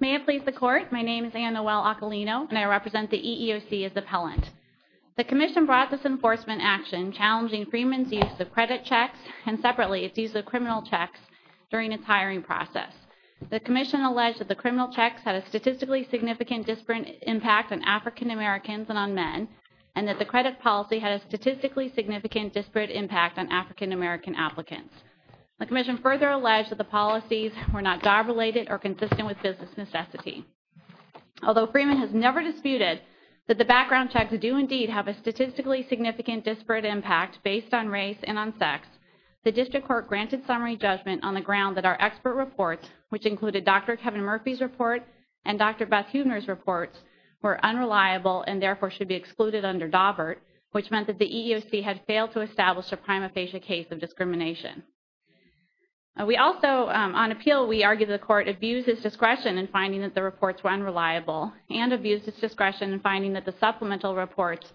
May it please the Court, my name is Anna Well-Occolino, and I represent the EEOC as appellant. The Commission brought this enforcement action challenging Freeman's use of credit checks and separately its use of criminal checks during its hiring process. The Commission alleged that the criminal checks had a statistically significant disparate impact on African Americans and on men, and that the credit policy had a statistically significant disparate impact on African American applicants. The Commission further alleged that the policies were not job-related or consistent with business necessity. Although Freeman has never disputed that the background checks do indeed have a statistically significant disparate impact based on race and on sex, the District Court granted summary judgment on the ground that our expert reports, which included Dr. Kevin Murphy's report and Dr. Beth Huebner's reports, were unreliable and therefore should be excluded under DAWBURT, which meant that the EEOC had failed to establish a prima facie case of discrimination. We also, on appeal, we argued the Court abused its discretion in finding that the reports were unreliable and abused its discretion in finding that the supplemental reports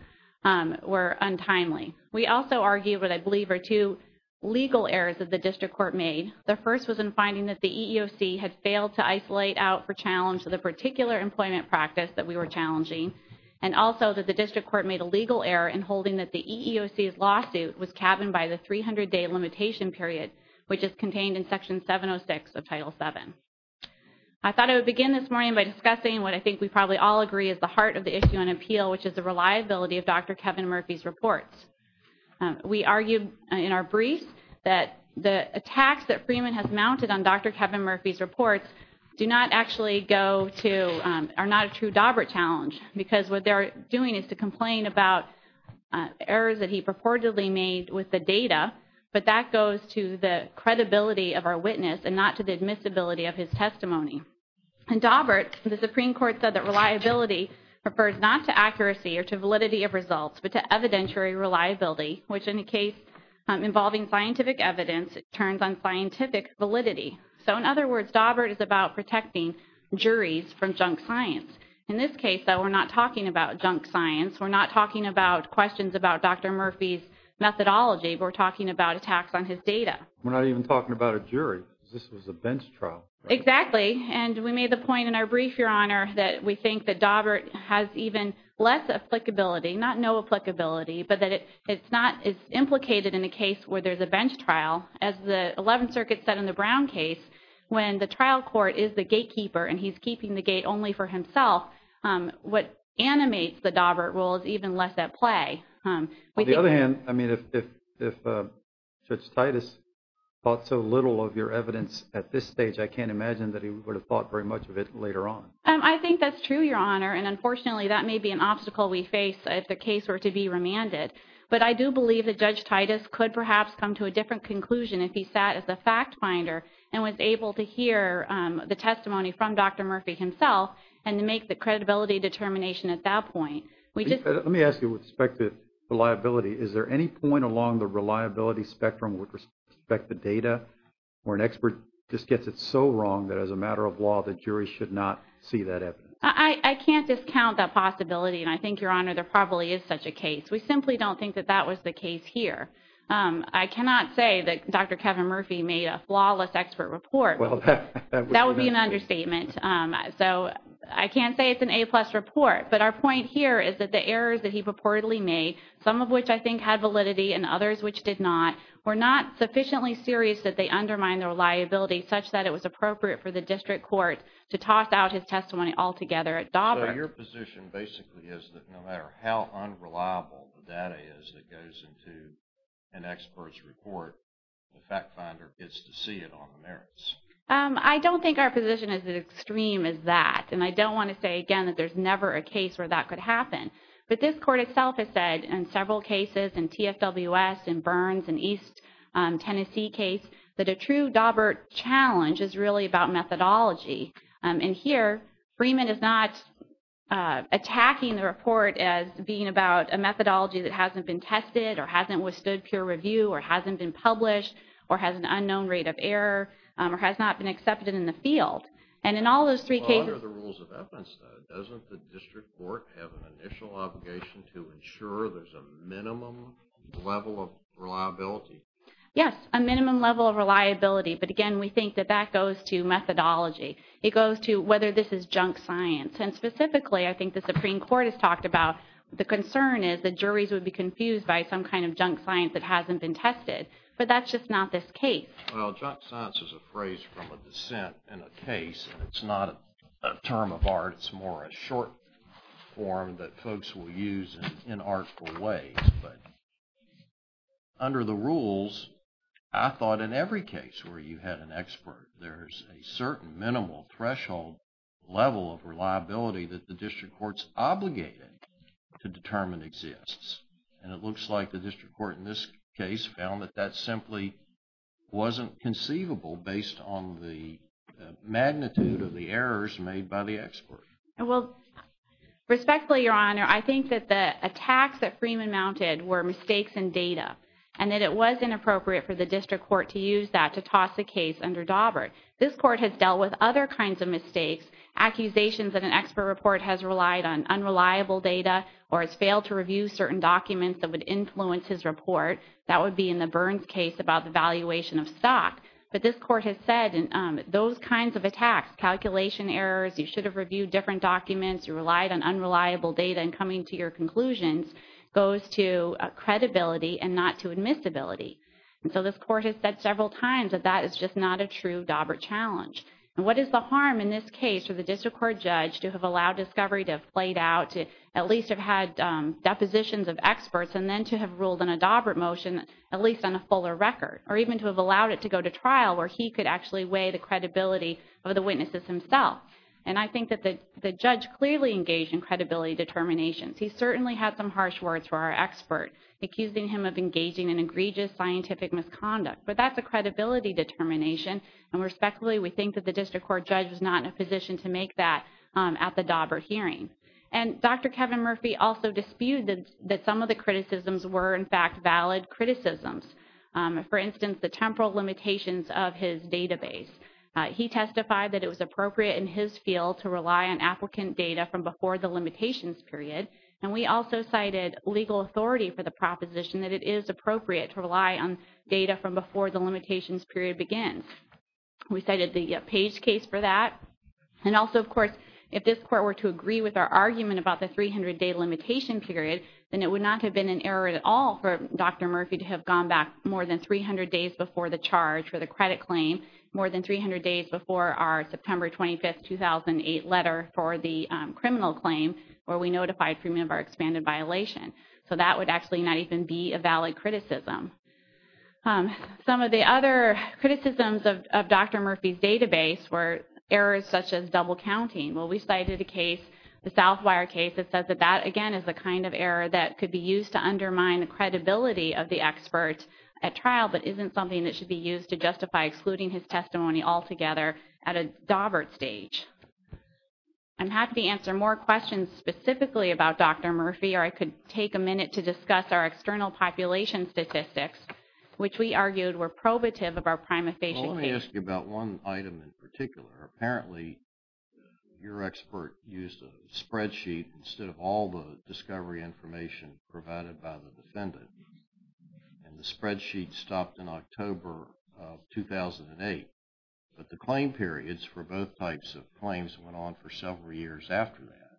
were untimely. We also argued what I believe are two legal errors that the District Court made. The first was in finding that the EEOC had failed to isolate out for challenge the particular employment practice that we were challenging, and also that the District Court made a legal error in holding that the EEOC's lawsuit was cabined by the 300-day limitation period, which is contained in Section 706 of Title VII. I thought I would begin this morning by discussing what I think we probably all agree is the heart of the issue on appeal, which is the reliability of Dr. Kevin Murphy's reports. We argued in our brief that the attacks that Freeman has mounted on Dr. Kevin Murphy's reports do not actually go to, are not a true DAWBURT challenge, because what they're doing is to complain about errors that he purportedly made with the data, but that goes to the credibility of our witness and not to the admissibility of his testimony. And DAWBURT, the Supreme Court said that reliability refers not to accuracy or to validity of results, but to evidentiary reliability, which in a case involving scientific evidence, it turns on scientific validity. So in other words, DAWBURT is about protecting juries from junk science. In this case, though, we're not talking about junk science. We're not talking about questions about Dr. Murphy's methodology. We're talking about attacks on his data. We're not even talking about a jury. This was a bench trial. And we made the point in our brief, Your Honor, that we think that DAWBURT has even less applicability, not no applicability, but that it's not as implicated in a case where there's a bench trial as the 11th Circuit said in the Brown case, when the trial court is the gatekeeper and he's keeping the gate only for himself. What animates the DAWBURT rule is even less at play. On the other hand, I mean, if Judge Titus thought so little of your evidence at this stage, I can't imagine that he would have thought very much of it later on. I think that's true, Your Honor. And unfortunately, that may be an obstacle we face if the case were to be remanded. But I do believe that Judge Titus could perhaps come to a different conclusion if he sat as a witness to the testimony from Dr. Murphy himself and to make the credibility determination at that point. We just... Let me ask you with respect to reliability. Is there any point along the reliability spectrum with respect to data where an expert just gets it so wrong that as a matter of law, the jury should not see that evidence? I can't discount that possibility, and I think, Your Honor, there probably is such a case. We simply don't think that that was the case here. I cannot say that Dr. Kevin Murphy made a flawless expert report. Well, that would be an understatement. So, I can't say it's an A-plus report, but our point here is that the errors that he purportedly made, some of which I think had validity and others which did not, were not sufficiently serious that they undermined the reliability such that it was appropriate for the district court to toss out his testimony altogether at Daubert. So, your position basically is that no matter how unreliable the data is that goes into an expert's report, the fact finder gets to see it on the merits? I don't think our position is as extreme as that, and I don't want to say, again, that there's never a case where that could happen, but this court itself has said in several cases, in TFWS, in Burns, in East Tennessee case, that a true Daubert challenge is really about methodology, and here, Freeman is not attacking the report as being about a methodology that hasn't been tested or hasn't withstood peer review or hasn't been published or has an unknown rate of error or has not been accepted in the field. And in all those three cases- Under the rules of evidence, though, doesn't the district court have an initial obligation to ensure there's a minimum level of reliability? Yes, a minimum level of reliability, but again, we think that that goes to methodology. It goes to whether this is junk science, and specifically, I think the Supreme Court has would be confused by some kind of junk science that hasn't been tested, but that's just not this case. Well, junk science is a phrase from a dissent in a case, and it's not a term of art. It's more a short form that folks will use in artful ways, but under the rules, I thought in every case where you had an expert, there's a certain minimal threshold level of reliability that the district court's obligated to determine exists, and it looks like the district court in this case found that that simply wasn't conceivable based on the magnitude of the errors made by the expert. Well, respectfully, Your Honor, I think that the attacks that Freeman mounted were mistakes in data, and that it was inappropriate for the district court to use that to toss the case under Dawbert. This court has dealt with other kinds of mistakes, accusations that an expert report has relied on unreliable data or has failed to review certain documents that would influence his report. That would be in the Burns case about the valuation of stock, but this court has said those kinds of attacks, calculation errors, you should have reviewed different documents, you relied on unreliable data, and coming to your conclusions goes to credibility and not to admissibility, and so this court has said several times that that is just not a true Dawbert challenge. And what is the harm in this case for the district court judge to have allowed discovery to have played out, to at least have had depositions of experts, and then to have ruled on a Dawbert motion at least on a fuller record, or even to have allowed it to go to trial where he could actually weigh the credibility of the witnesses himself? And I think that the judge clearly engaged in credibility determinations. He certainly had some harsh words for our expert, accusing him of engaging in egregious scientific misconduct, but that is a credibility determination, and respectfully, we think that the district court judge was not in a position to make that at the Dawbert hearing. And Dr. Kevin Murphy also disputed that some of the criticisms were, in fact, valid criticisms. For instance, the temporal limitations of his database. He testified that it was appropriate in his field to rely on applicant data from before the limitations period, and we also cited legal authority for the proposition that it is appropriate to rely on data from before the limitations period begins. We cited the Page case for that. And also, of course, if this court were to agree with our argument about the 300-day limitation period, then it would not have been an error at all for Dr. Murphy to have gone back more than 300 days before the charge for the credit claim, more than 300 days before our September 25, 2008 letter for the criminal claim, where we notified Freeman of our expanded violation. So that would actually not even be a valid criticism. Some of the other criticisms of Dr. Murphy's database were errors such as double counting. Well, we cited a case, the Southwire case, that says that that, again, is the kind of error that could be used to undermine the credibility of the expert at trial, but isn't something that should be used to justify excluding his testimony altogether at a Dawbert stage. I'm happy to answer more questions specifically about Dr. Murphy, or I could take a minute to discuss our external population statistics, which we argued were probative of our prima facie case. Well, let me ask you about one item in particular. Apparently, your expert used a spreadsheet instead of all the discovery information provided by the defendant. And the spreadsheet stopped in October of 2008. But the claim periods for both types of claims went on for several years after that.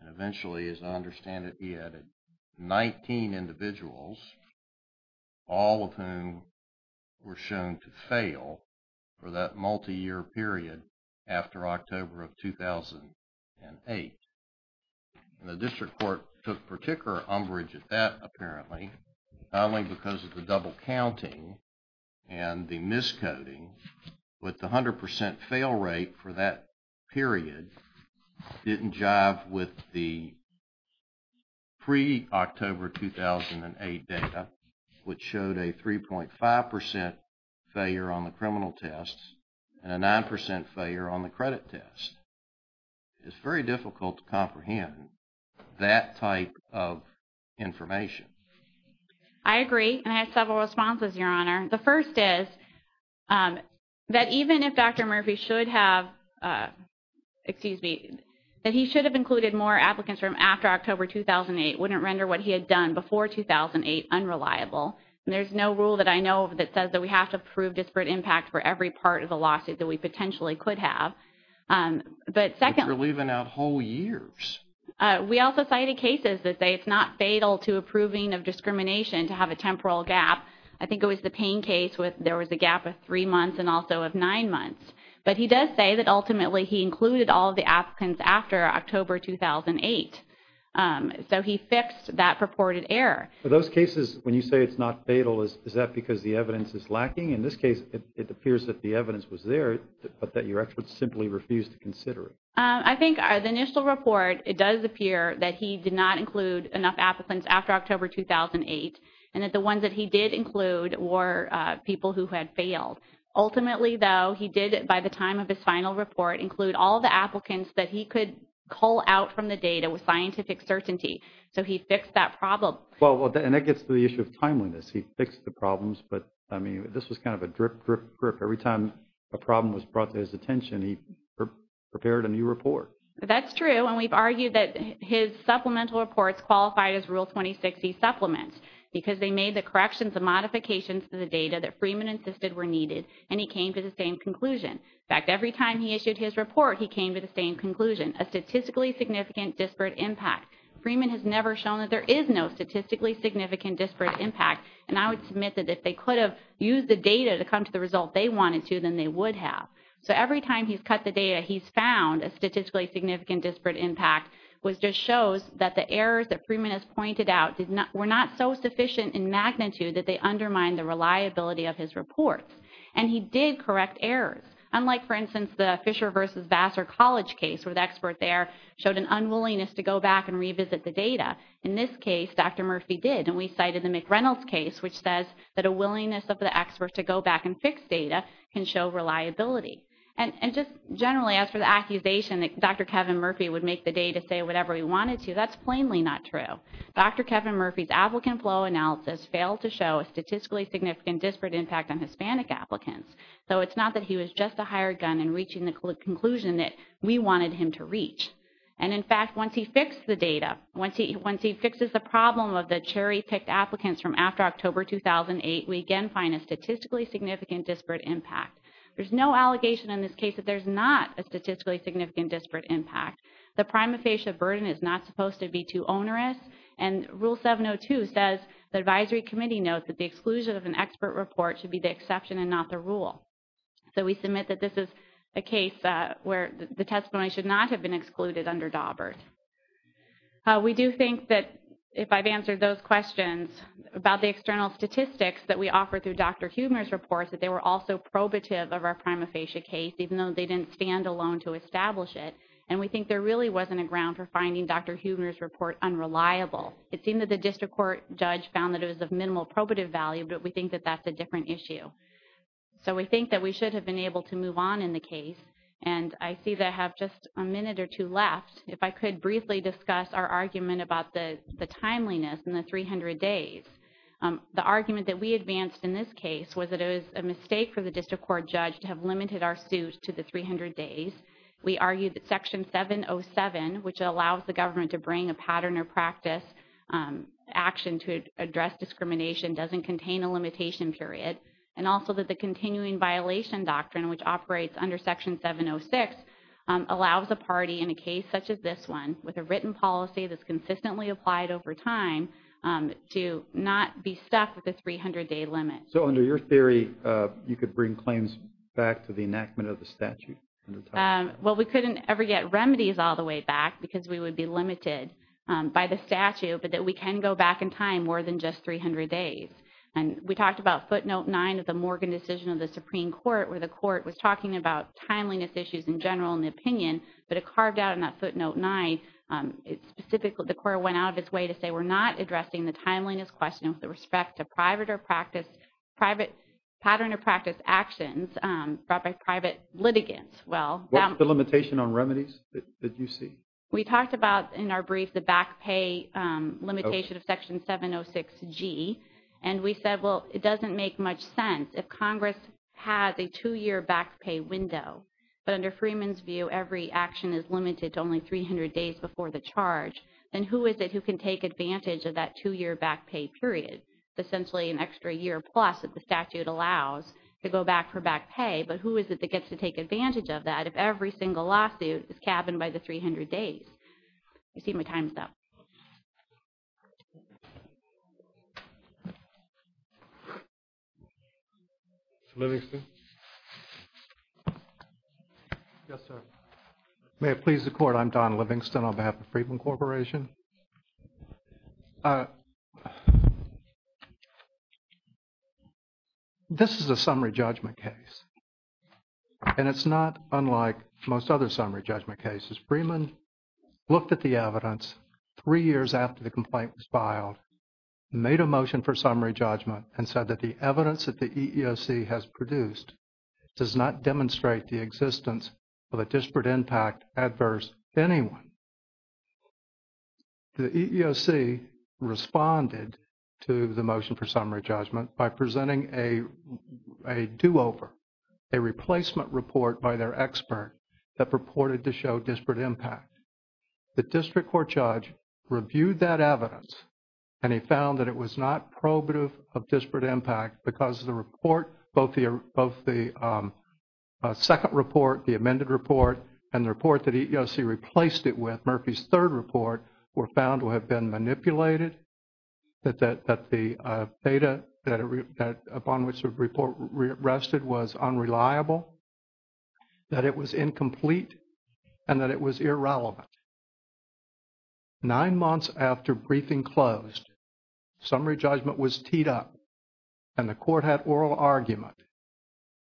And eventually, as I understand it, he added 19 individuals, all of whom were shown to fail for that multi-year period after October of 2008. The district court took particular umbrage at that, apparently, not only because of the But the 100% fail rate for that period didn't jive with the pre-October 2008 data, which showed a 3.5% failure on the criminal test and a 9% failure on the credit test. It's very difficult to comprehend that type of information. I agree. And I have several responses, Your Honor. The first is that even if Dr. Murphy should have, excuse me, that he should have included more applicants from after October 2008 wouldn't render what he had done before 2008 unreliable. There's no rule that I know of that says that we have to prove disparate impact for every part of the lawsuit that we potentially could have. But secondly- But you're leaving out whole years. We also cited cases that say it's not fatal to approving of discrimination to have a temporal gap. I think it was the Payne case where there was a gap of three months and also of nine months. But he does say that ultimately he included all of the applicants after October 2008. So he fixed that purported error. For those cases, when you say it's not fatal, is that because the evidence is lacking? In this case, it appears that the evidence was there, but that your experts simply refused to consider it. I think the initial report, it does appear that he did not include enough applicants after October 2008, and that the ones that he did include were people who had failed. Ultimately, though, he did, by the time of his final report, include all the applicants that he could cull out from the data with scientific certainty. So he fixed that problem. Well, and that gets to the issue of timeliness. He fixed the problems, but I mean, this was kind of a drip, drip, drip. Every time a problem was brought to his attention, he prepared a new report. That's true, and we've argued that his supplemental reports qualified as Rule 2060 supplements because they made the corrections and modifications to the data that Freeman insisted were needed, and he came to the same conclusion. In fact, every time he issued his report, he came to the same conclusion, a statistically significant disparate impact. Freeman has never shown that there is no statistically significant disparate impact, and I would submit that if they could have used the data to come to the result they wanted to, then they would have. So every time he's cut the data, he's found a statistically significant disparate impact was just shows that the errors that Freeman has pointed out were not so sufficient in magnitude that they undermined the reliability of his reports, and he did correct errors. Unlike, for instance, the Fisher versus Vassar College case, where the expert there showed an unwillingness to go back and revisit the data, in this case, Dr. Murphy did, and we cited the McReynolds case, which says that a willingness of the expert to go back and And just generally, as for the accusation that Dr. Kevin Murphy would make the data say whatever he wanted to, that's plainly not true. Dr. Kevin Murphy's applicant flow analysis failed to show a statistically significant disparate impact on Hispanic applicants, so it's not that he was just a hired gun in reaching the conclusion that we wanted him to reach. And in fact, once he fixed the data, once he fixes the problem of the cherry-picked applicants from after October 2008, we again find a statistically significant disparate impact. There's no allegation in this case that there's not a statistically significant disparate impact. The prima facie burden is not supposed to be too onerous, and Rule 702 says the advisory committee notes that the exclusion of an expert report should be the exception and not the rule. So, we submit that this is a case where the testimony should not have been excluded under Dawbert. We do think that if I've answered those questions about the external statistics that we offer through Dr. Huebner's report, that they were also probative of our prima facie case, even though they didn't stand alone to establish it. And we think there really wasn't a ground for finding Dr. Huebner's report unreliable. It seemed that the district court judge found that it was of minimal probative value, but we think that that's a different issue. So we think that we should have been able to move on in the case. And I see that I have just a minute or two left. If I could briefly discuss our argument about the timeliness in the 300 days. The argument that we advanced in this case was that it was a mistake for the district court judge to have limited our suit to the 300 days. We argued that Section 707, which allows the government to bring a pattern or practice action to address discrimination, doesn't contain a limitation period. And also that the continuing violation doctrine, which operates under Section 706, allows a party in a case such as this one, with a written policy that's consistently applied over time, to not be stuck with the 300-day limit. So under your theory, you could bring claims back to the enactment of the statute? Well, we couldn't ever get remedies all the way back because we would be limited by the statute, but that we can go back in time more than just 300 days. And we talked about footnote 9 of the Morgan decision of the Supreme Court, where the court was talking about timeliness issues in general in the opinion, but it carved out in that addressing the timeliness question with respect to pattern or practice actions brought by private litigants. What was the limitation on remedies that you see? We talked about, in our brief, the back pay limitation of Section 706G. And we said, well, it doesn't make much sense if Congress has a two-year back pay window. But under Freeman's view, every action is limited to only 300 days before the charge. And who is it who can take advantage of that two-year back pay period? It's essentially an extra year plus that the statute allows to go back for back pay, but who is it that gets to take advantage of that if every single lawsuit is cabined by the 300 days? I see my time's up. Mr. Livingston? Yes, sir. May it please the Court, I'm Don Livingston on behalf of Freeman Corporation. This is a summary judgment case. And it's not unlike most other summary judgment cases. Freeman looked at the evidence three years after the complaint was filed, made a motion for summary judgment and said that the evidence that the EEOC has produced does not demonstrate the existence of a disparate impact adverse to anyone. The EEOC responded to the motion for summary judgment by presenting a do-over, a replacement report by their expert that purported to show disparate impact. The district court judge reviewed that evidence and he found that it was not probative of disparate impact because the report, both the second report, the amended report and the report that EEOC replaced it with, Murphy's third report, were found to have been manipulated, that the data upon which the report rested was unreliable, that it was incomplete and that it was irrelevant. Nine months after briefing closed, summary judgment was teed up and the court had oral argument.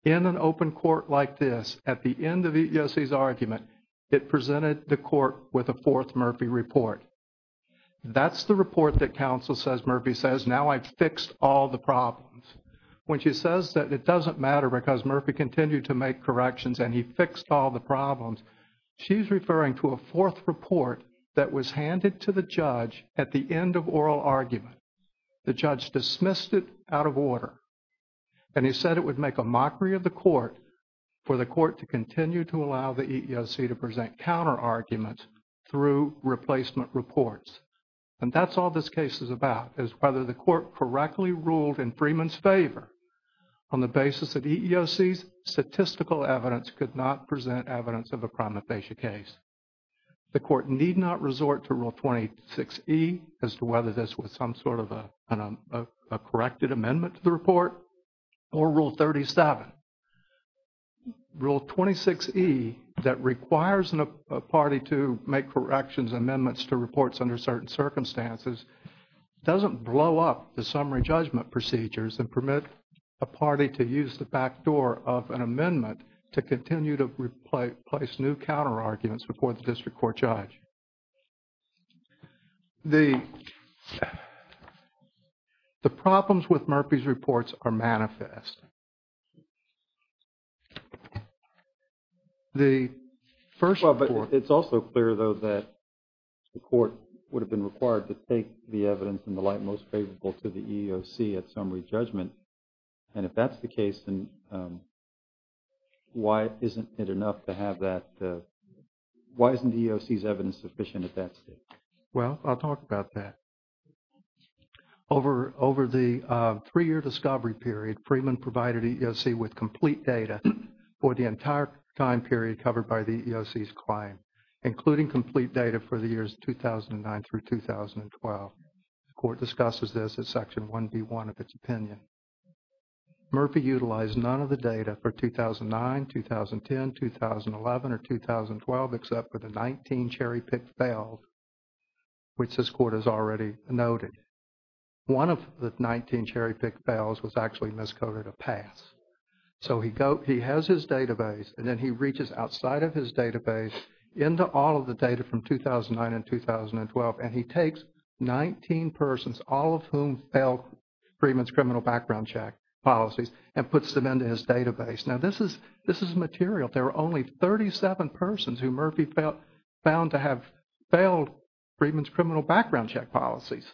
In an open court like this, at the end of EEOC's argument, it presented the court with a fourth Murphy report. That's the report that counsel says Murphy says, now I've fixed all the problems. When she says that it doesn't matter because Murphy continued to make corrections and he fixed all the problems, she's referring to a fourth report that was handed to the judge at the end of oral argument. The judge dismissed it out of order. And he said it would make a mockery of the court for the court to continue to allow the EEOC to present counter arguments through replacement reports. And that's all this case is about, is whether the court correctly ruled in Freeman's favor on the basis that EEOC's statistical evidence could not present evidence of a prima facie case. The court need not resort to Rule 26E as to whether this was some sort of a corrected amendment to the report or Rule 37. Rule 26E that requires a party to make corrections and amendments to reports under certain circumstances doesn't blow up the summary judgment procedures and permit a party to use the backdoor of an amendment to continue to replace new counter arguments before the district court judge. The problems with Murphy's reports are manifest. The first report... Well, but it's also clear, though, that the court would have been required to take the evidence in the light most favorable to the EEOC at summary judgment. And if that's the case, then why isn't it enough to have that... Well, I'll talk about that. Over the three-year discovery period, Freeman provided EEOC with complete data for the entire time period covered by the EEOC's claim, including complete data for the years 2009 through 2012. The court discusses this at Section 1B1 of its opinion. Murphy utilized none of the data for 2009, 2010, 2011, or 2012 except for the 19 cherry-picked fails, which this court has already noted. One of the 19 cherry-picked fails was actually miscoded a pass. So he has his database, and then he reaches outside of his database into all of the data from 2009 and 2012, and he takes 19 persons, all of whom failed Freeman's criminal background check policies, and puts them into his database. Now, this is material. There were only 37 persons who Murphy found to have failed Freeman's criminal background check policies.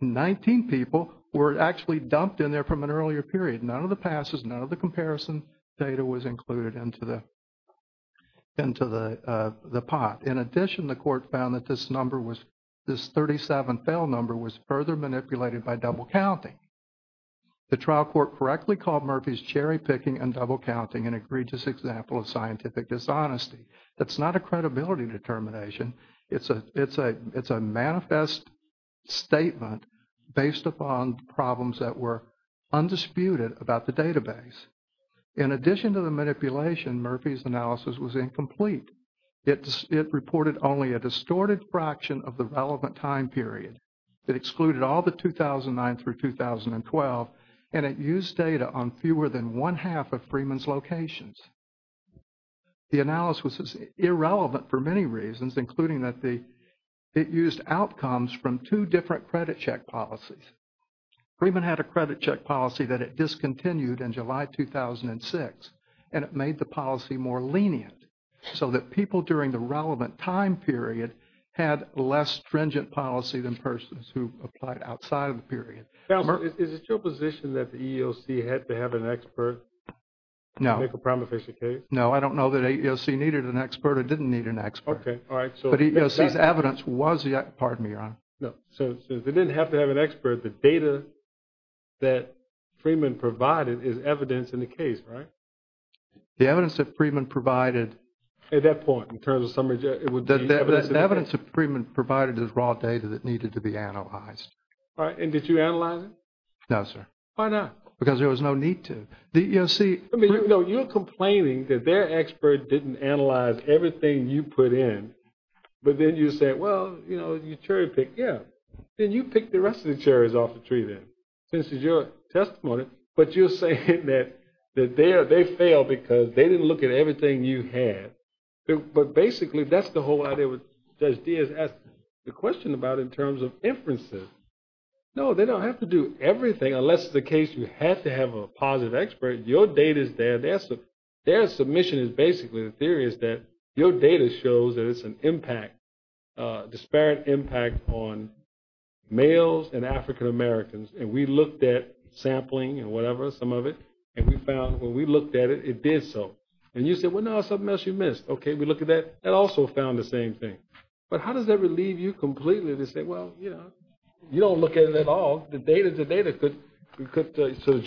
Nineteen people were actually dumped in there from an earlier period. None of the passes, none of the comparison data was included into the pot. In addition, the court found that this number was, this 37 fail number was further manipulated by double-counting. The trial court correctly called Murphy's cherry-picking and double-counting an egregious example of scientific dishonesty. That's not a credibility determination. It's a manifest statement based upon problems that were undisputed about the database. In addition to the manipulation, Murphy's analysis was incomplete. It reported only a distorted fraction of the relevant time period. It excluded all the 2009 through 2012, and it used data on fewer than one-half of Freeman's locations. The analysis was irrelevant for many reasons, including that it used outcomes from two different credit check policies. Freeman had a credit check policy that it discontinued in July 2006, and it made the policy more lenient, so that people during the relevant time period had less stringent Is it your position that the EEOC had to have an expert? No. To make a prima facie case? No, I don't know that EEOC needed an expert or didn't need an expert. Okay, all right. But EEOC's evidence was the, pardon me, Your Honor. No, so they didn't have to have an expert. The data that Freeman provided is evidence in the case, right? The evidence that Freeman provided. At that point, in terms of summary, it would be evidence. The evidence that Freeman provided is raw data that needed to be analyzed. All right. And did you analyze it? No, sir. Why not? Because there was no need to. The EEOC... No, you're complaining that their expert didn't analyze everything you put in, but then you said, well, you know, you cherry-picked. Yeah. Then you picked the rest of the cherries off the tree then, since it's your testimony. But you're saying that they failed because they didn't look at everything you had. But basically, that's the whole idea that Judge Diaz asked the question about in terms of inferences. No, they don't have to do everything, unless it's a case you have to have a positive expert. Your data is there. Their submission is basically, the theory is that your data shows that it's an impact, disparate impact on males and African-Americans. And we looked at sampling and whatever, some of it, and we found when we looked at it, it did so. And you said, well, no, there's something else you missed. Okay, we looked at that. That also found the same thing. But how does that relieve you completely to say, well, you know, you don't look at it at all. The data, the data could... So the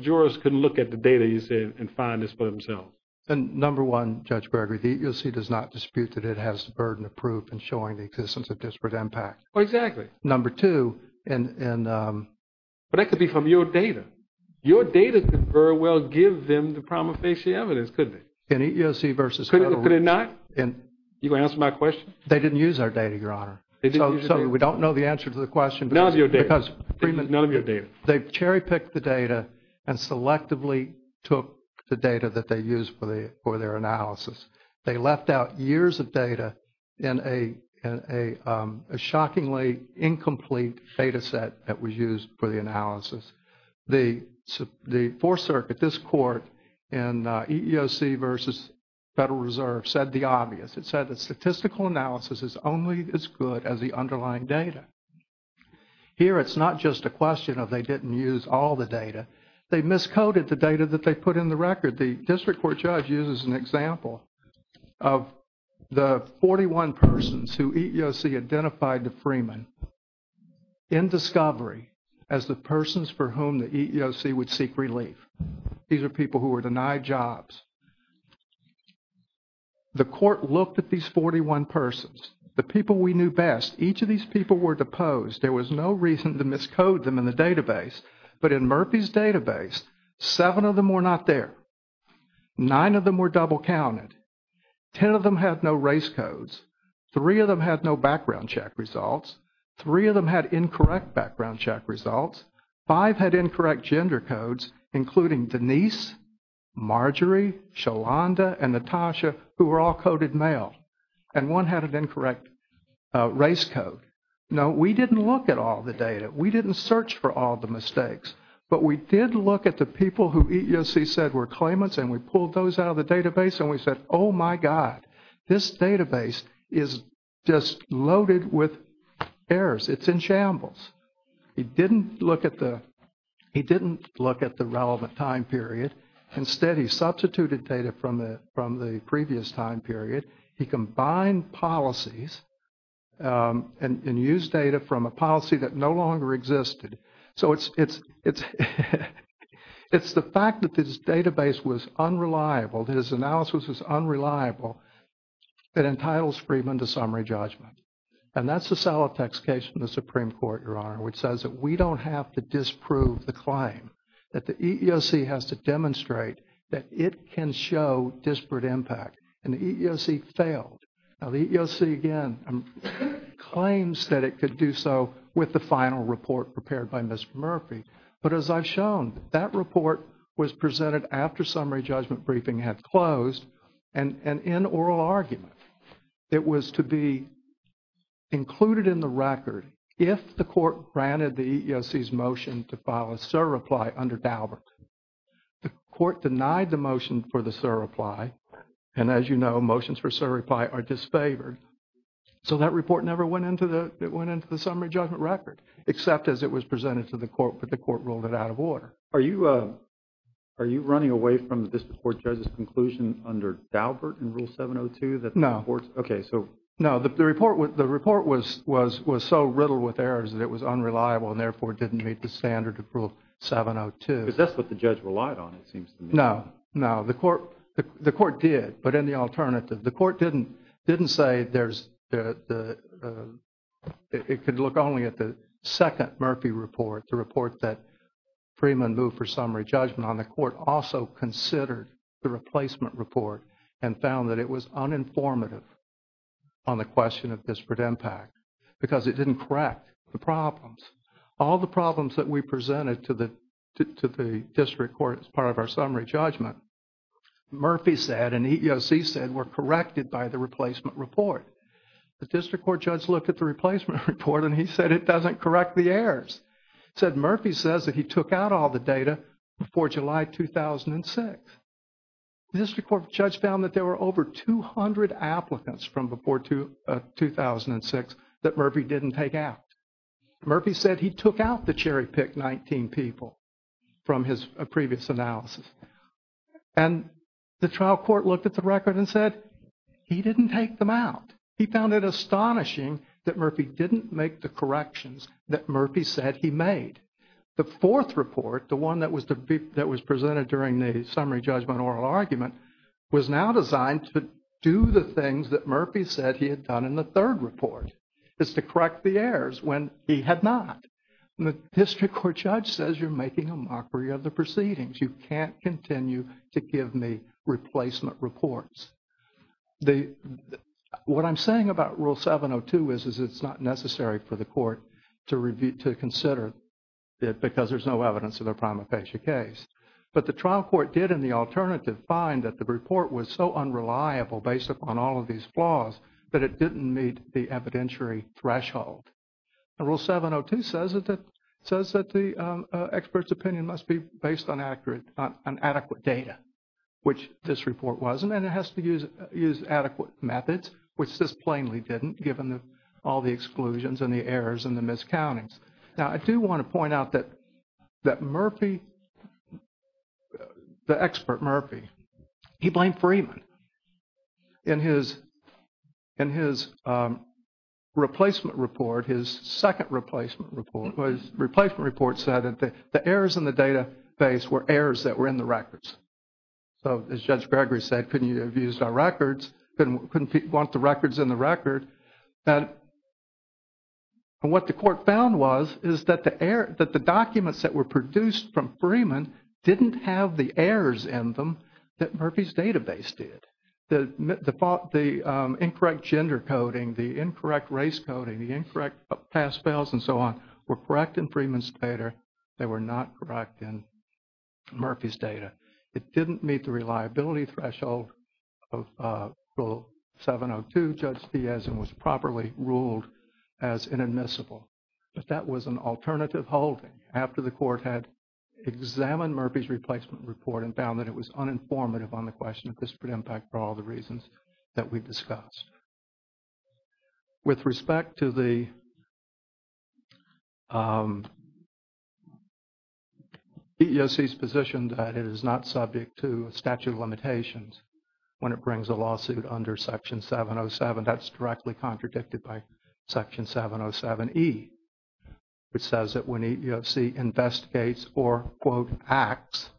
jurors couldn't look at the data, you said, and find this for themselves. And number one, Judge Berger, the EEOC does not dispute that it has the burden of proof in showing the existence of disparate impact. Oh, exactly. Number two, and... But that could be from your data. Your data could very well give them the prima facie evidence, couldn't it? In EEOC versus federal... Could it not? You gonna answer my question? They didn't use our data, Your Honor. So we don't know the answer to the question because... None of your data. None of your data. They cherry-picked the data and selectively took the data that they used for their analysis. They left out years of data in a shockingly incomplete data set that was used for the Fourth Circuit. This court in EEOC versus Federal Reserve said the obvious. It said the statistical analysis is only as good as the underlying data. Here, it's not just a question of they didn't use all the data. They miscoded the data that they put in the record. The district court judge uses an example of the 41 persons who EEOC identified to Freeman in discovery as the persons for whom the EEOC would seek relief. These are people who were denied jobs. The court looked at these 41 persons, the people we knew best. Each of these people were deposed. There was no reason to miscode them in the database. But in Murphy's database, seven of them were not there. Nine of them were double-counted. Ten of them had no race codes. Three of them had no background check results. Three of them had incorrect background check results. Five had incorrect gender codes, including Denise, Marjorie, Sholanda, and Natasha, who were all coded male. And one had an incorrect race code. Now, we didn't look at all the data. We didn't search for all the mistakes. But we did look at the people who EEOC said were claimants, and we pulled those out of the database, and we said, oh, my God, this database is just loaded with errors. It's in shambles. He didn't look at the relevant time period. Instead, he substituted data from the previous time period. He combined policies and used data from a policy that no longer existed. So it's the fact that this database was unreliable, that his analysis was unreliable, that entitles Freeman to summary judgment. And that's the Salovec case in the Supreme Court, Your Honor, which says that we don't have to disprove the claim, that the EEOC has to demonstrate that it can show disparate impact. And the EEOC failed. Now, the EEOC, again, claims that it could do so with the final report prepared by Ms. Murphy. But as I've shown, that report was presented after summary judgment briefing had closed. And in oral argument, it was to be included in the record if the court granted the EEOC's motion to file a SIR reply under Daubert. The court denied the motion for the SIR reply. And as you know, motions for SIR reply are disfavored. So that report never went into the summary judgment record, except as it was presented to the court, but the court ruled it out of order. Are you running away from the district court judge's conclusion under Daubert in Rule 702? No. Okay, so. No, the report was so riddled with errors that it was unreliable and therefore didn't meet the standard of Rule 702. Because that's what the judge relied on, it seems to me. No, no. The court did, but in the alternative. The court didn't say there's the, it could look only at the second Murphy report, the report that Freeman moved for summary judgment on. The court also considered the replacement report and found that it was uninformative on the question of disparate impact because it didn't correct the problems. All the problems that we presented to the district court as part of our summary judgment, Murphy said and EEOC said were corrected by the replacement report. The district court judge looked at the replacement report and he said it doesn't correct the errors. He said Murphy says that he took out all the data before July 2006. The district court judge found that there were over 200 applicants from before 2006 that Murphy didn't take out. Murphy said he took out the cherry-picked 19 people from his previous analysis. And the trial court looked at the record and said he didn't take them out. He found it astonishing that Murphy didn't make the corrections that Murphy said he made. The fourth report, the one that was presented during the summary judgment oral argument, was now designed to do the things that Murphy said he had done in the third report, is to correct the errors when he had not. And the district court judge says you're making a mockery of the proceedings. You can't continue to give me replacement reports. What I'm saying about Rule 702 is, is it's not necessary for the court to review, to consider because there's no evidence of a prima facie case. But the trial court did in the alternative find that the report was so unreliable based upon all of these flaws that it didn't meet the evidentiary threshold. And Rule 702 says that the expert's opinion must be based on accurate, on adequate data, which this report wasn't. And it has to use adequate methods, which this plainly didn't, given all the exclusions and the errors and the miscountings. Now, I do want to point out that Murphy, the expert Murphy, he blamed Freeman. In his replacement report, his second replacement report, his replacement report said that the errors in the database were errors that were in the records. So as Judge Gregory said, couldn't you have used our records? Couldn't want the records in the record? And what the court found was is that the documents that were produced from Freeman didn't have the errors in them that Murphy's database did. The incorrect gender coding, the incorrect race coding, the incorrect pass-fails and so on were correct in Freeman's data. They were not correct in Murphy's data. It didn't meet the reliability threshold of Rule 702, Judge Diaz, and was properly ruled as inadmissible. But that was an alternative holding after the court had examined Murphy's replacement report and found that it was uninformative on the question of disparate impact for all the reasons that we discussed. With respect to the EEOC's position that it is not subject to statute of limitations when it brings a lawsuit under Section 707, that's directly contradicted by Section 707E, which says that when EEOC investigates or, quote, acts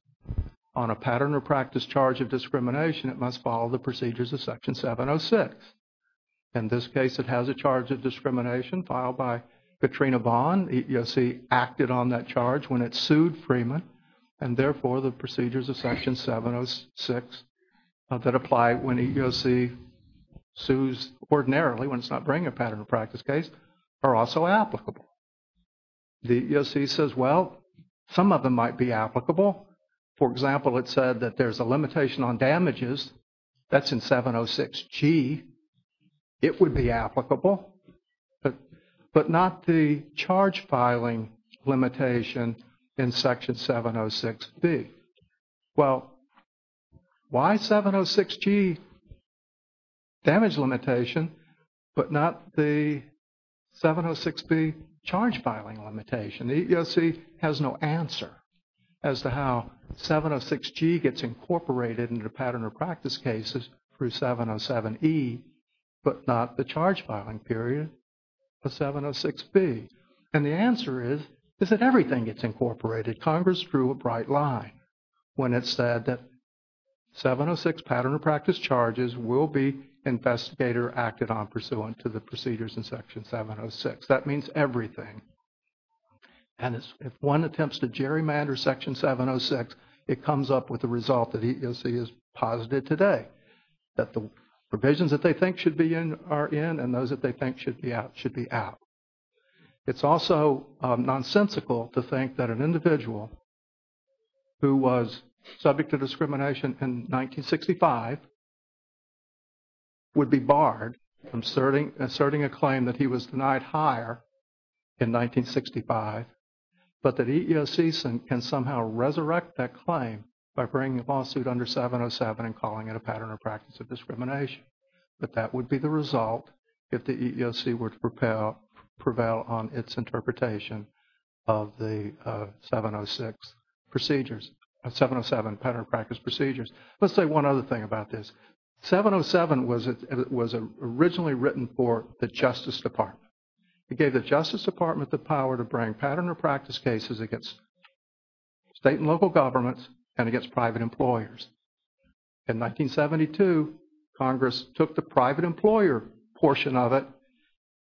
on a pattern or practice charge of discrimination, it must follow the procedures of Section 706. In this case, it has a charge of discrimination filed by Katrina Bond. In Section 707, EEOC acted on that charge when it sued Freeman. And therefore, the procedures of Section 706 that apply when EEOC sues ordinarily, when it's not bringing a pattern or practice case, are also applicable. The EEOC says, well, some of them might be applicable. For example, it said that there's a limitation on damages. That's in 706G. It would be applicable, but not the charge filing limitation in Section 706B. Well, why 706G damage limitation, but not the 706B charge filing limitation? The EEOC has no answer as to how 706G gets incorporated into pattern or practice cases through 707E, but not the charge filing period of 706B. And the answer is, is that everything gets incorporated. Congress drew a bright line when it said that 706 pattern or practice charges will be investigated or acted on pursuant to the procedures in Section 706. That means everything. And if one attempts to gerrymander Section 706, it comes up with the result that EEOC is positive today, that the provisions that they think should be in are in and those that they think should be out should be out. It's also nonsensical to think that an individual who was subject to discrimination in 1965 would be barred from asserting a claim that he was denied hire in 1965, but that EEOC can somehow resurrect that claim by bringing a lawsuit under 707 and calling it a pattern or practice of discrimination. But that would be the result if the EEOC were to prevail on its interpretation of the 706 procedures, 707 pattern or practice procedures. Let's say one other thing about this. 707 was originally written for the Justice Department. It gave the Justice Department the power to bring pattern or practice cases against state and local governments and against private employers. In 1972, Congress took the private employer portion of it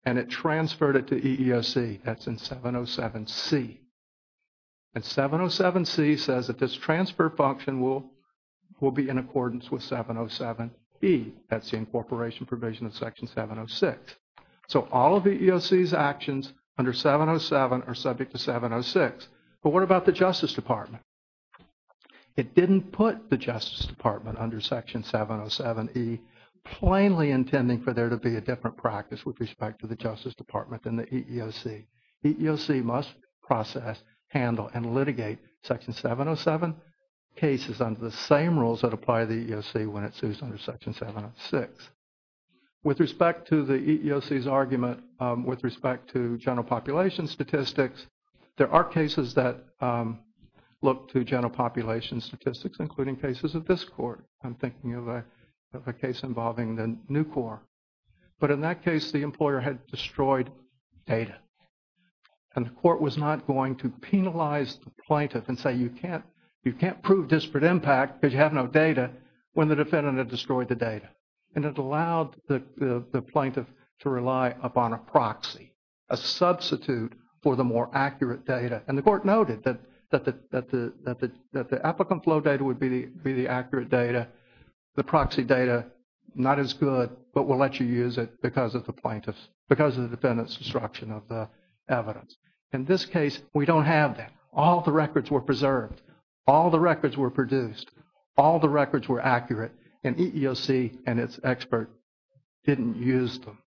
and it transferred it to EEOC. That's in 707C. And 707C says that this transfer function will be in accordance with 707E. That's the incorporation provision of Section 706. So all of EEOC's actions under 707 are subject to 706. But what about the Justice Department? It didn't put the Justice Department under Section 707E, plainly intending for there to be a different practice with respect to the Justice Department than the EEOC. EEOC must process, handle, and litigate Section 707 cases under the same rules that apply to the EEOC when it's used under Section 706. With respect to the EEOC's argument, with respect to general population statistics, there are cases that look to general population statistics, including cases of this court. I'm thinking of a case involving the New Corps. But in that case, the employer had destroyed data. And the court was not going to penalize the plaintiff and say you can't prove disparate impact because you have no data when the defendant had destroyed the data. And it allowed the plaintiff to rely upon a proxy, a substitute for the more accurate data. And the court noted that the applicant flow data would be the accurate data. The proxy data, not as good, but we'll let you use it because of the plaintiff's, because of the defendant's destruction of the evidence. In this case, we don't have that. All the records were preserved. All the records were produced. All the records were accurate. And EEOC and its expert didn't use them.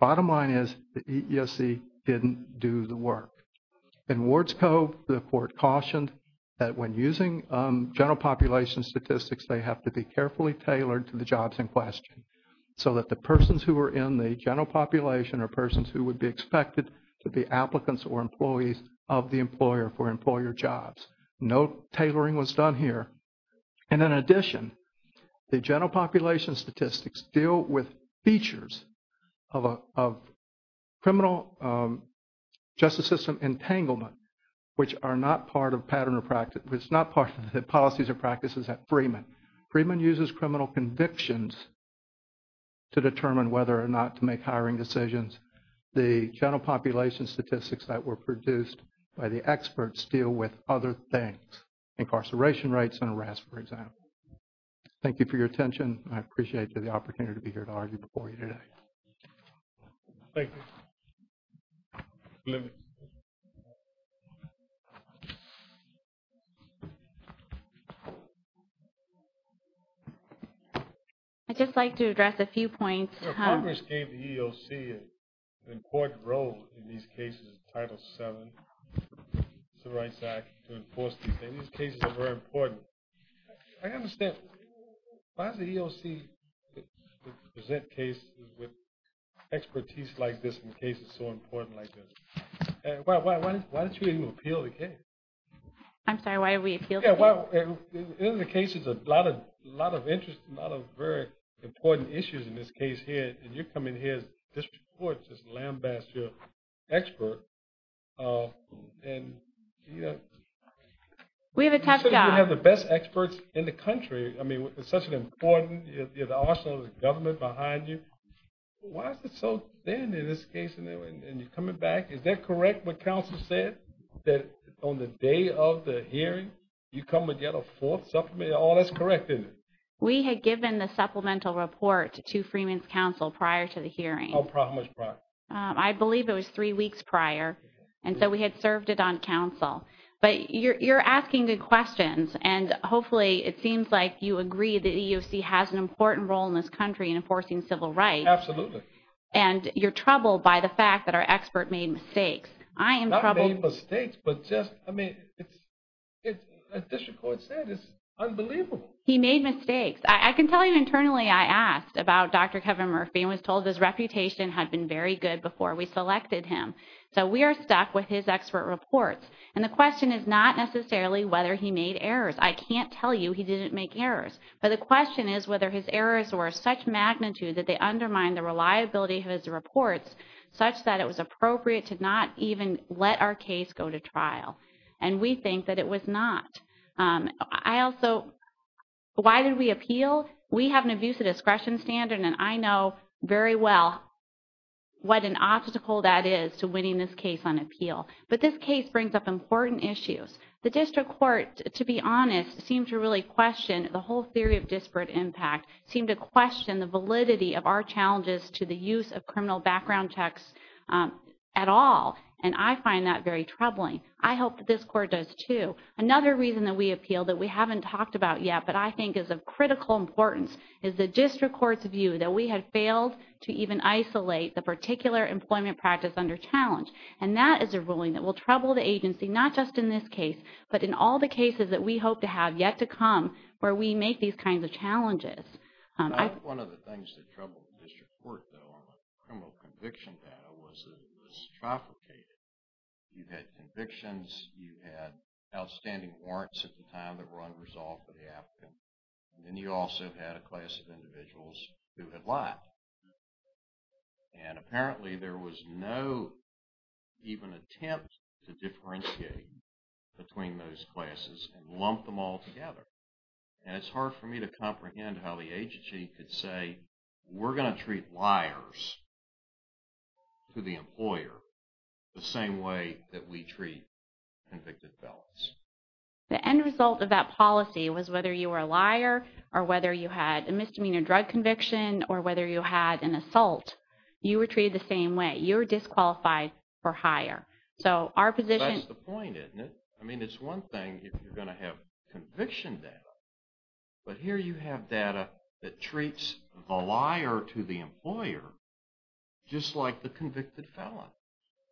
Bottom line is the EEOC didn't do the work. In Wards Cove, the court cautioned that when using general population statistics, they have to be carefully tailored to the jobs in question. So that the persons who are in the general population are persons who would be expected to be applicants or employees of the employer for employer jobs. No tailoring was done here. And in addition, the general population statistics deal with features of criminal justice system entanglement, which are not part of pattern or practice, which is not part of the policies or practices at Freeman. Freeman uses criminal convictions to determine whether or not to make hiring decisions. The general population statistics that were produced by the experts deal with other things. Incarceration rates and arrests, for example. Thank you for your attention. I appreciate the opportunity to be here to argue before you today. Thank you. I'd just like to address a few points. Congress gave the EEOC an important role in these cases. Title VII, Civil Rights Act, to enforce these things. These cases are very important. I understand. Why does the EEOC present cases with expertise like this in cases so important like this? Why don't you even appeal the case? I'm sorry, why do we appeal the case? In the cases, a lot of interest, a lot of very important issues in this case here. And you're coming here as district courts, as an ambassador expert. We have a tough job. You have the best experts in the country. I mean, it's such an important arsenal of government behind you. Why is it so thin in this case? And you're coming back. Is that correct what counsel said, that on the day of the hearing, you come and get a fourth supplement? Oh, that's correct, isn't it? We had given the supplemental report to Freeman's counsel prior to the hearing. Oh, how much prior? I believe it was three weeks prior. And so we had served it on counsel. But you're asking good questions. And hopefully it seems like you agree the EEOC has an important role in this country in enforcing civil rights. Absolutely. And you're troubled by the fact that our expert made mistakes. I am troubled. Not made mistakes, but just, I mean, it's, as district court said, it's unbelievable. He made mistakes. I can tell you internally I asked about Dr. Kevin Murphy and was told his reputation had been very good before we selected him. So we are stuck with his expert reports. And the question is not necessarily whether he made errors. I can't tell you he didn't make errors. But the question is whether his errors were such magnitude that they undermined the reliability of his reports such that it was appropriate to not even let our case go to trial. And we think that it was not. I also, why did we appeal? We have an abuse of discretion standard and I know very well what an obstacle that is to winning this case on appeal. But this case brings up important issues. The district court, to be honest, seemed to really question the whole theory of disparate impact, seemed to question the validity of our challenges to the use of criminal background checks at all. And I find that very troubling. I hope that this court does too. Another reason that we appealed that we haven't talked about yet but I think is of critical importance is the district court's view that we had failed to even isolate the particular employment practice under challenge. And that is a ruling that will trouble the agency, not just in this case, but in all the cases that we hope to have yet to come where we make these kinds of challenges. I think one of the things that troubled the district court though on the criminal conviction data was that it was trafficated. You had convictions, you had outstanding warrants at the time that were unresolved for the applicant, and then you also had a class of individuals who had lied. And apparently there was no even attempt to differentiate between those classes and lump them all together. And it's hard for me to comprehend how the agency could say, we're going to treat liars to the employer the same way that we treat convicted felons. The end result of that policy was whether you were a liar or whether you had a misdemeanor drug conviction or whether you had an assault, you were treated the same way. You were disqualified for hire. So our position… That's the point, isn't it? I mean, it's one thing if you're going to have conviction data. But here you have data that treats the liar to the employer just like the convicted felon.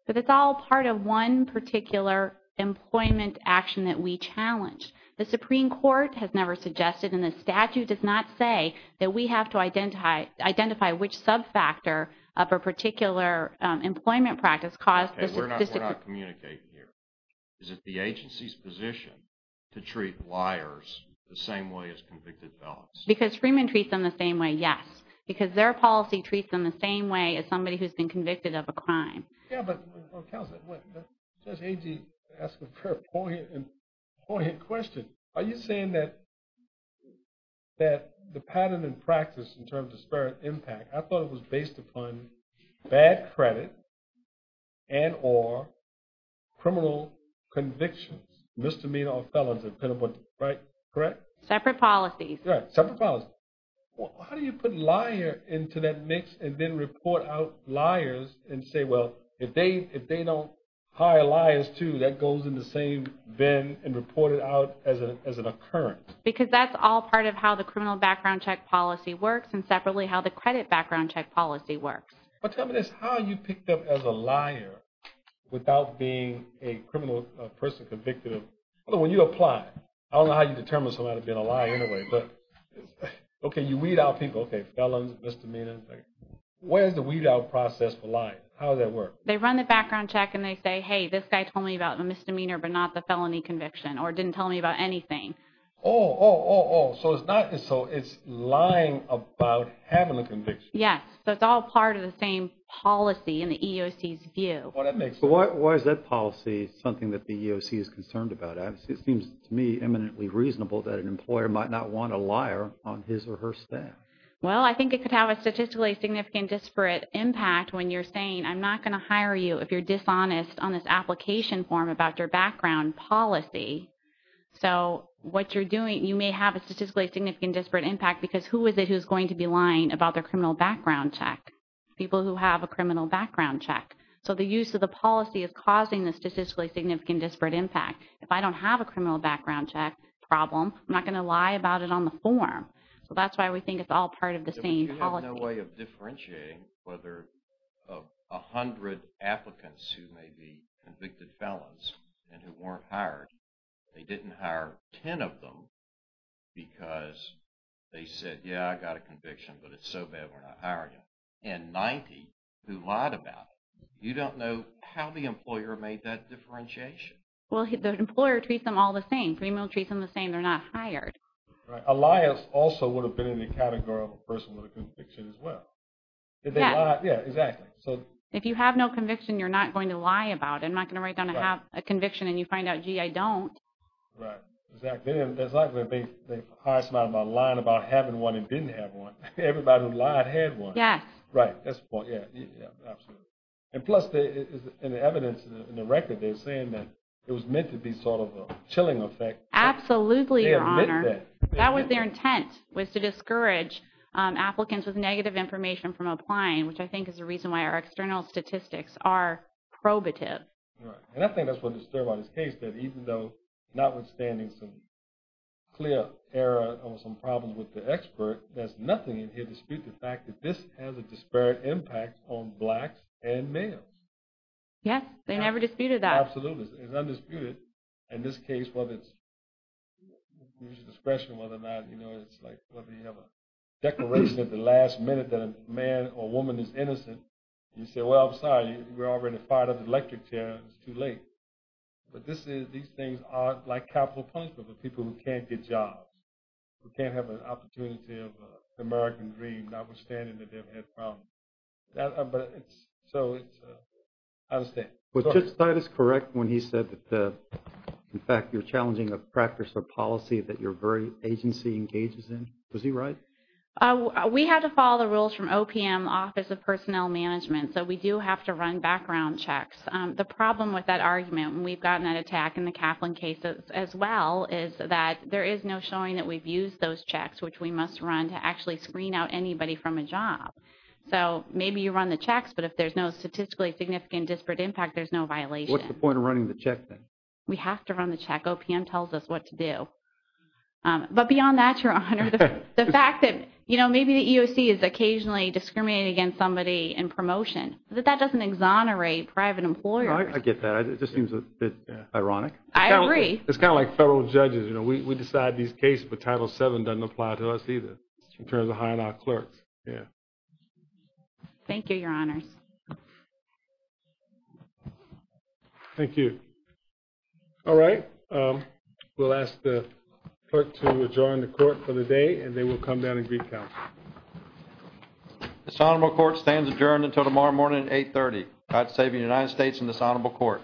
But it's all part of one particular employment action that we challenged. The Supreme Court has never suggested and the statute does not say that we have to identify which sub-factor of a particular employment practice caused this… Okay, we're not communicating here. Is it the agency's position to treat liars the same way as convicted felons? Because Freeman treats them the same way, yes. Because their policy treats them the same way as somebody who's been convicted of a crime. Yeah, but Counselor, Judge Agee asked a very poignant question. Are you saying that the pattern in practice in terms of disparate impact, I thought it was based upon bad credit and or criminal convictions, misdemeanor or felons, right? Correct? Separate policies. Right, separate policies. How do you put liar into that mix and then report out liars and say, well, if they don't hire liars too, that goes in the same bin and report it out as an occurrence? Because that's all part of how the criminal background check policy works and separately how the credit background check policy works. But tell me this, how are you picked up as a liar without being a criminal person convicted of… When you apply, I don't know how you determine somebody being a liar anyway, but okay, you weed out people. Okay, felons, misdemeanor. Where's the weed out process for liars? How does that work? They run the background check and they say, hey, this guy told me about the misdemeanor but not the felony conviction or didn't tell me about anything. Oh, oh, oh, oh. So it's lying about having a conviction. Yes. So it's all part of the same policy in the EEOC's view. Well, that makes sense. But is that policy something that the EEOC is concerned about? It seems to me eminently reasonable that an employer might not want a liar on his or her staff. Well, I think it could have a statistically significant disparate impact when you're saying I'm not going to hire you if you're dishonest on this application form about your background policy. So what you're doing, you may have a statistically significant disparate impact because who is it who's going to be lying about their criminal background check? People who have a criminal background check. So the use of the policy is causing the statistically significant disparate impact. If I don't have a criminal background check problem, I'm not going to lie about it on the form. So that's why we think it's all part of the same policy. But you have no way of differentiating whether 100 applicants who may be convicted felons and who weren't hired, they didn't hire 10 of them because they said, yeah, I got a conviction, but it's so bad we're not hiring you. And 90 who lied about it, you don't know how the employer made that differentiation. Well, the employer treats them all the same. Criminal treats them the same. They're not hired. Right. A liar also would have been in the category of a person with a conviction as well. Yeah. Yeah, exactly. If you have no conviction, you're not going to lie about it. I'm not going to write down a conviction and you find out, gee, I don't. Right. Exactly. They hired somebody by lying about having one and didn't have one. Everybody who lied had one. Yes. Right. That's the point. Yeah, absolutely. And plus, in the evidence in the record, they're saying that it was meant to be sort of a chilling effect. Absolutely, Your Honor. They admit that. That was their intent, was to discourage applicants with negative information from applying, which I think is the reason why our external statistics are probative. Right. And I think that's what disturbed by this case, that even though notwithstanding some clear error or some problems with the expert, there's nothing in here to dispute the fact that this has a disparate impact on blacks and males. Yes, they never disputed that. Absolutely. It's undisputed. In this case, whether it's discretion, whether or not it's like whether you have a declaration at the last minute that a man or woman is innocent, you say, well, I'm sorry. We already fired up the electric chair. It's too late. But these things are like capital punishment for people who can't get jobs, who can't have an opportunity of an American dream, notwithstanding that they've had problems. So I understand. Was Judge Stites correct when he said that, in fact, you're challenging a practice or policy that your agency engages in? Was he right? We had to follow the rules from OPM, Office of Personnel Management. So we do have to run background checks. The problem with that argument, and we've gotten that attack in the Kaplan case as well, is that there is no showing that we've used those checks, which we must run to actually screen out anybody from a job. So maybe you run the checks, but if there's no statistically significant disparate impact, there's no violation. What's the point of running the check, then? We have to run the check. OPM tells us what to do. But beyond that, Your Honor, the fact that maybe the EOC is occasionally discriminating against somebody in promotion, that that doesn't exonerate private employers. I get that. It just seems a bit ironic. I agree. It's kind of like federal judges. We decide these cases, but Title VII doesn't apply to us either in terms of hiring our clerks. Thank you, Your Honors. Thank you. All right. We'll ask the clerk to adjourn the court for the day, and then we'll come down and greet counsel. This honorable court stands adjourned until tomorrow morning at 8.30. God save the United States and this honorable court.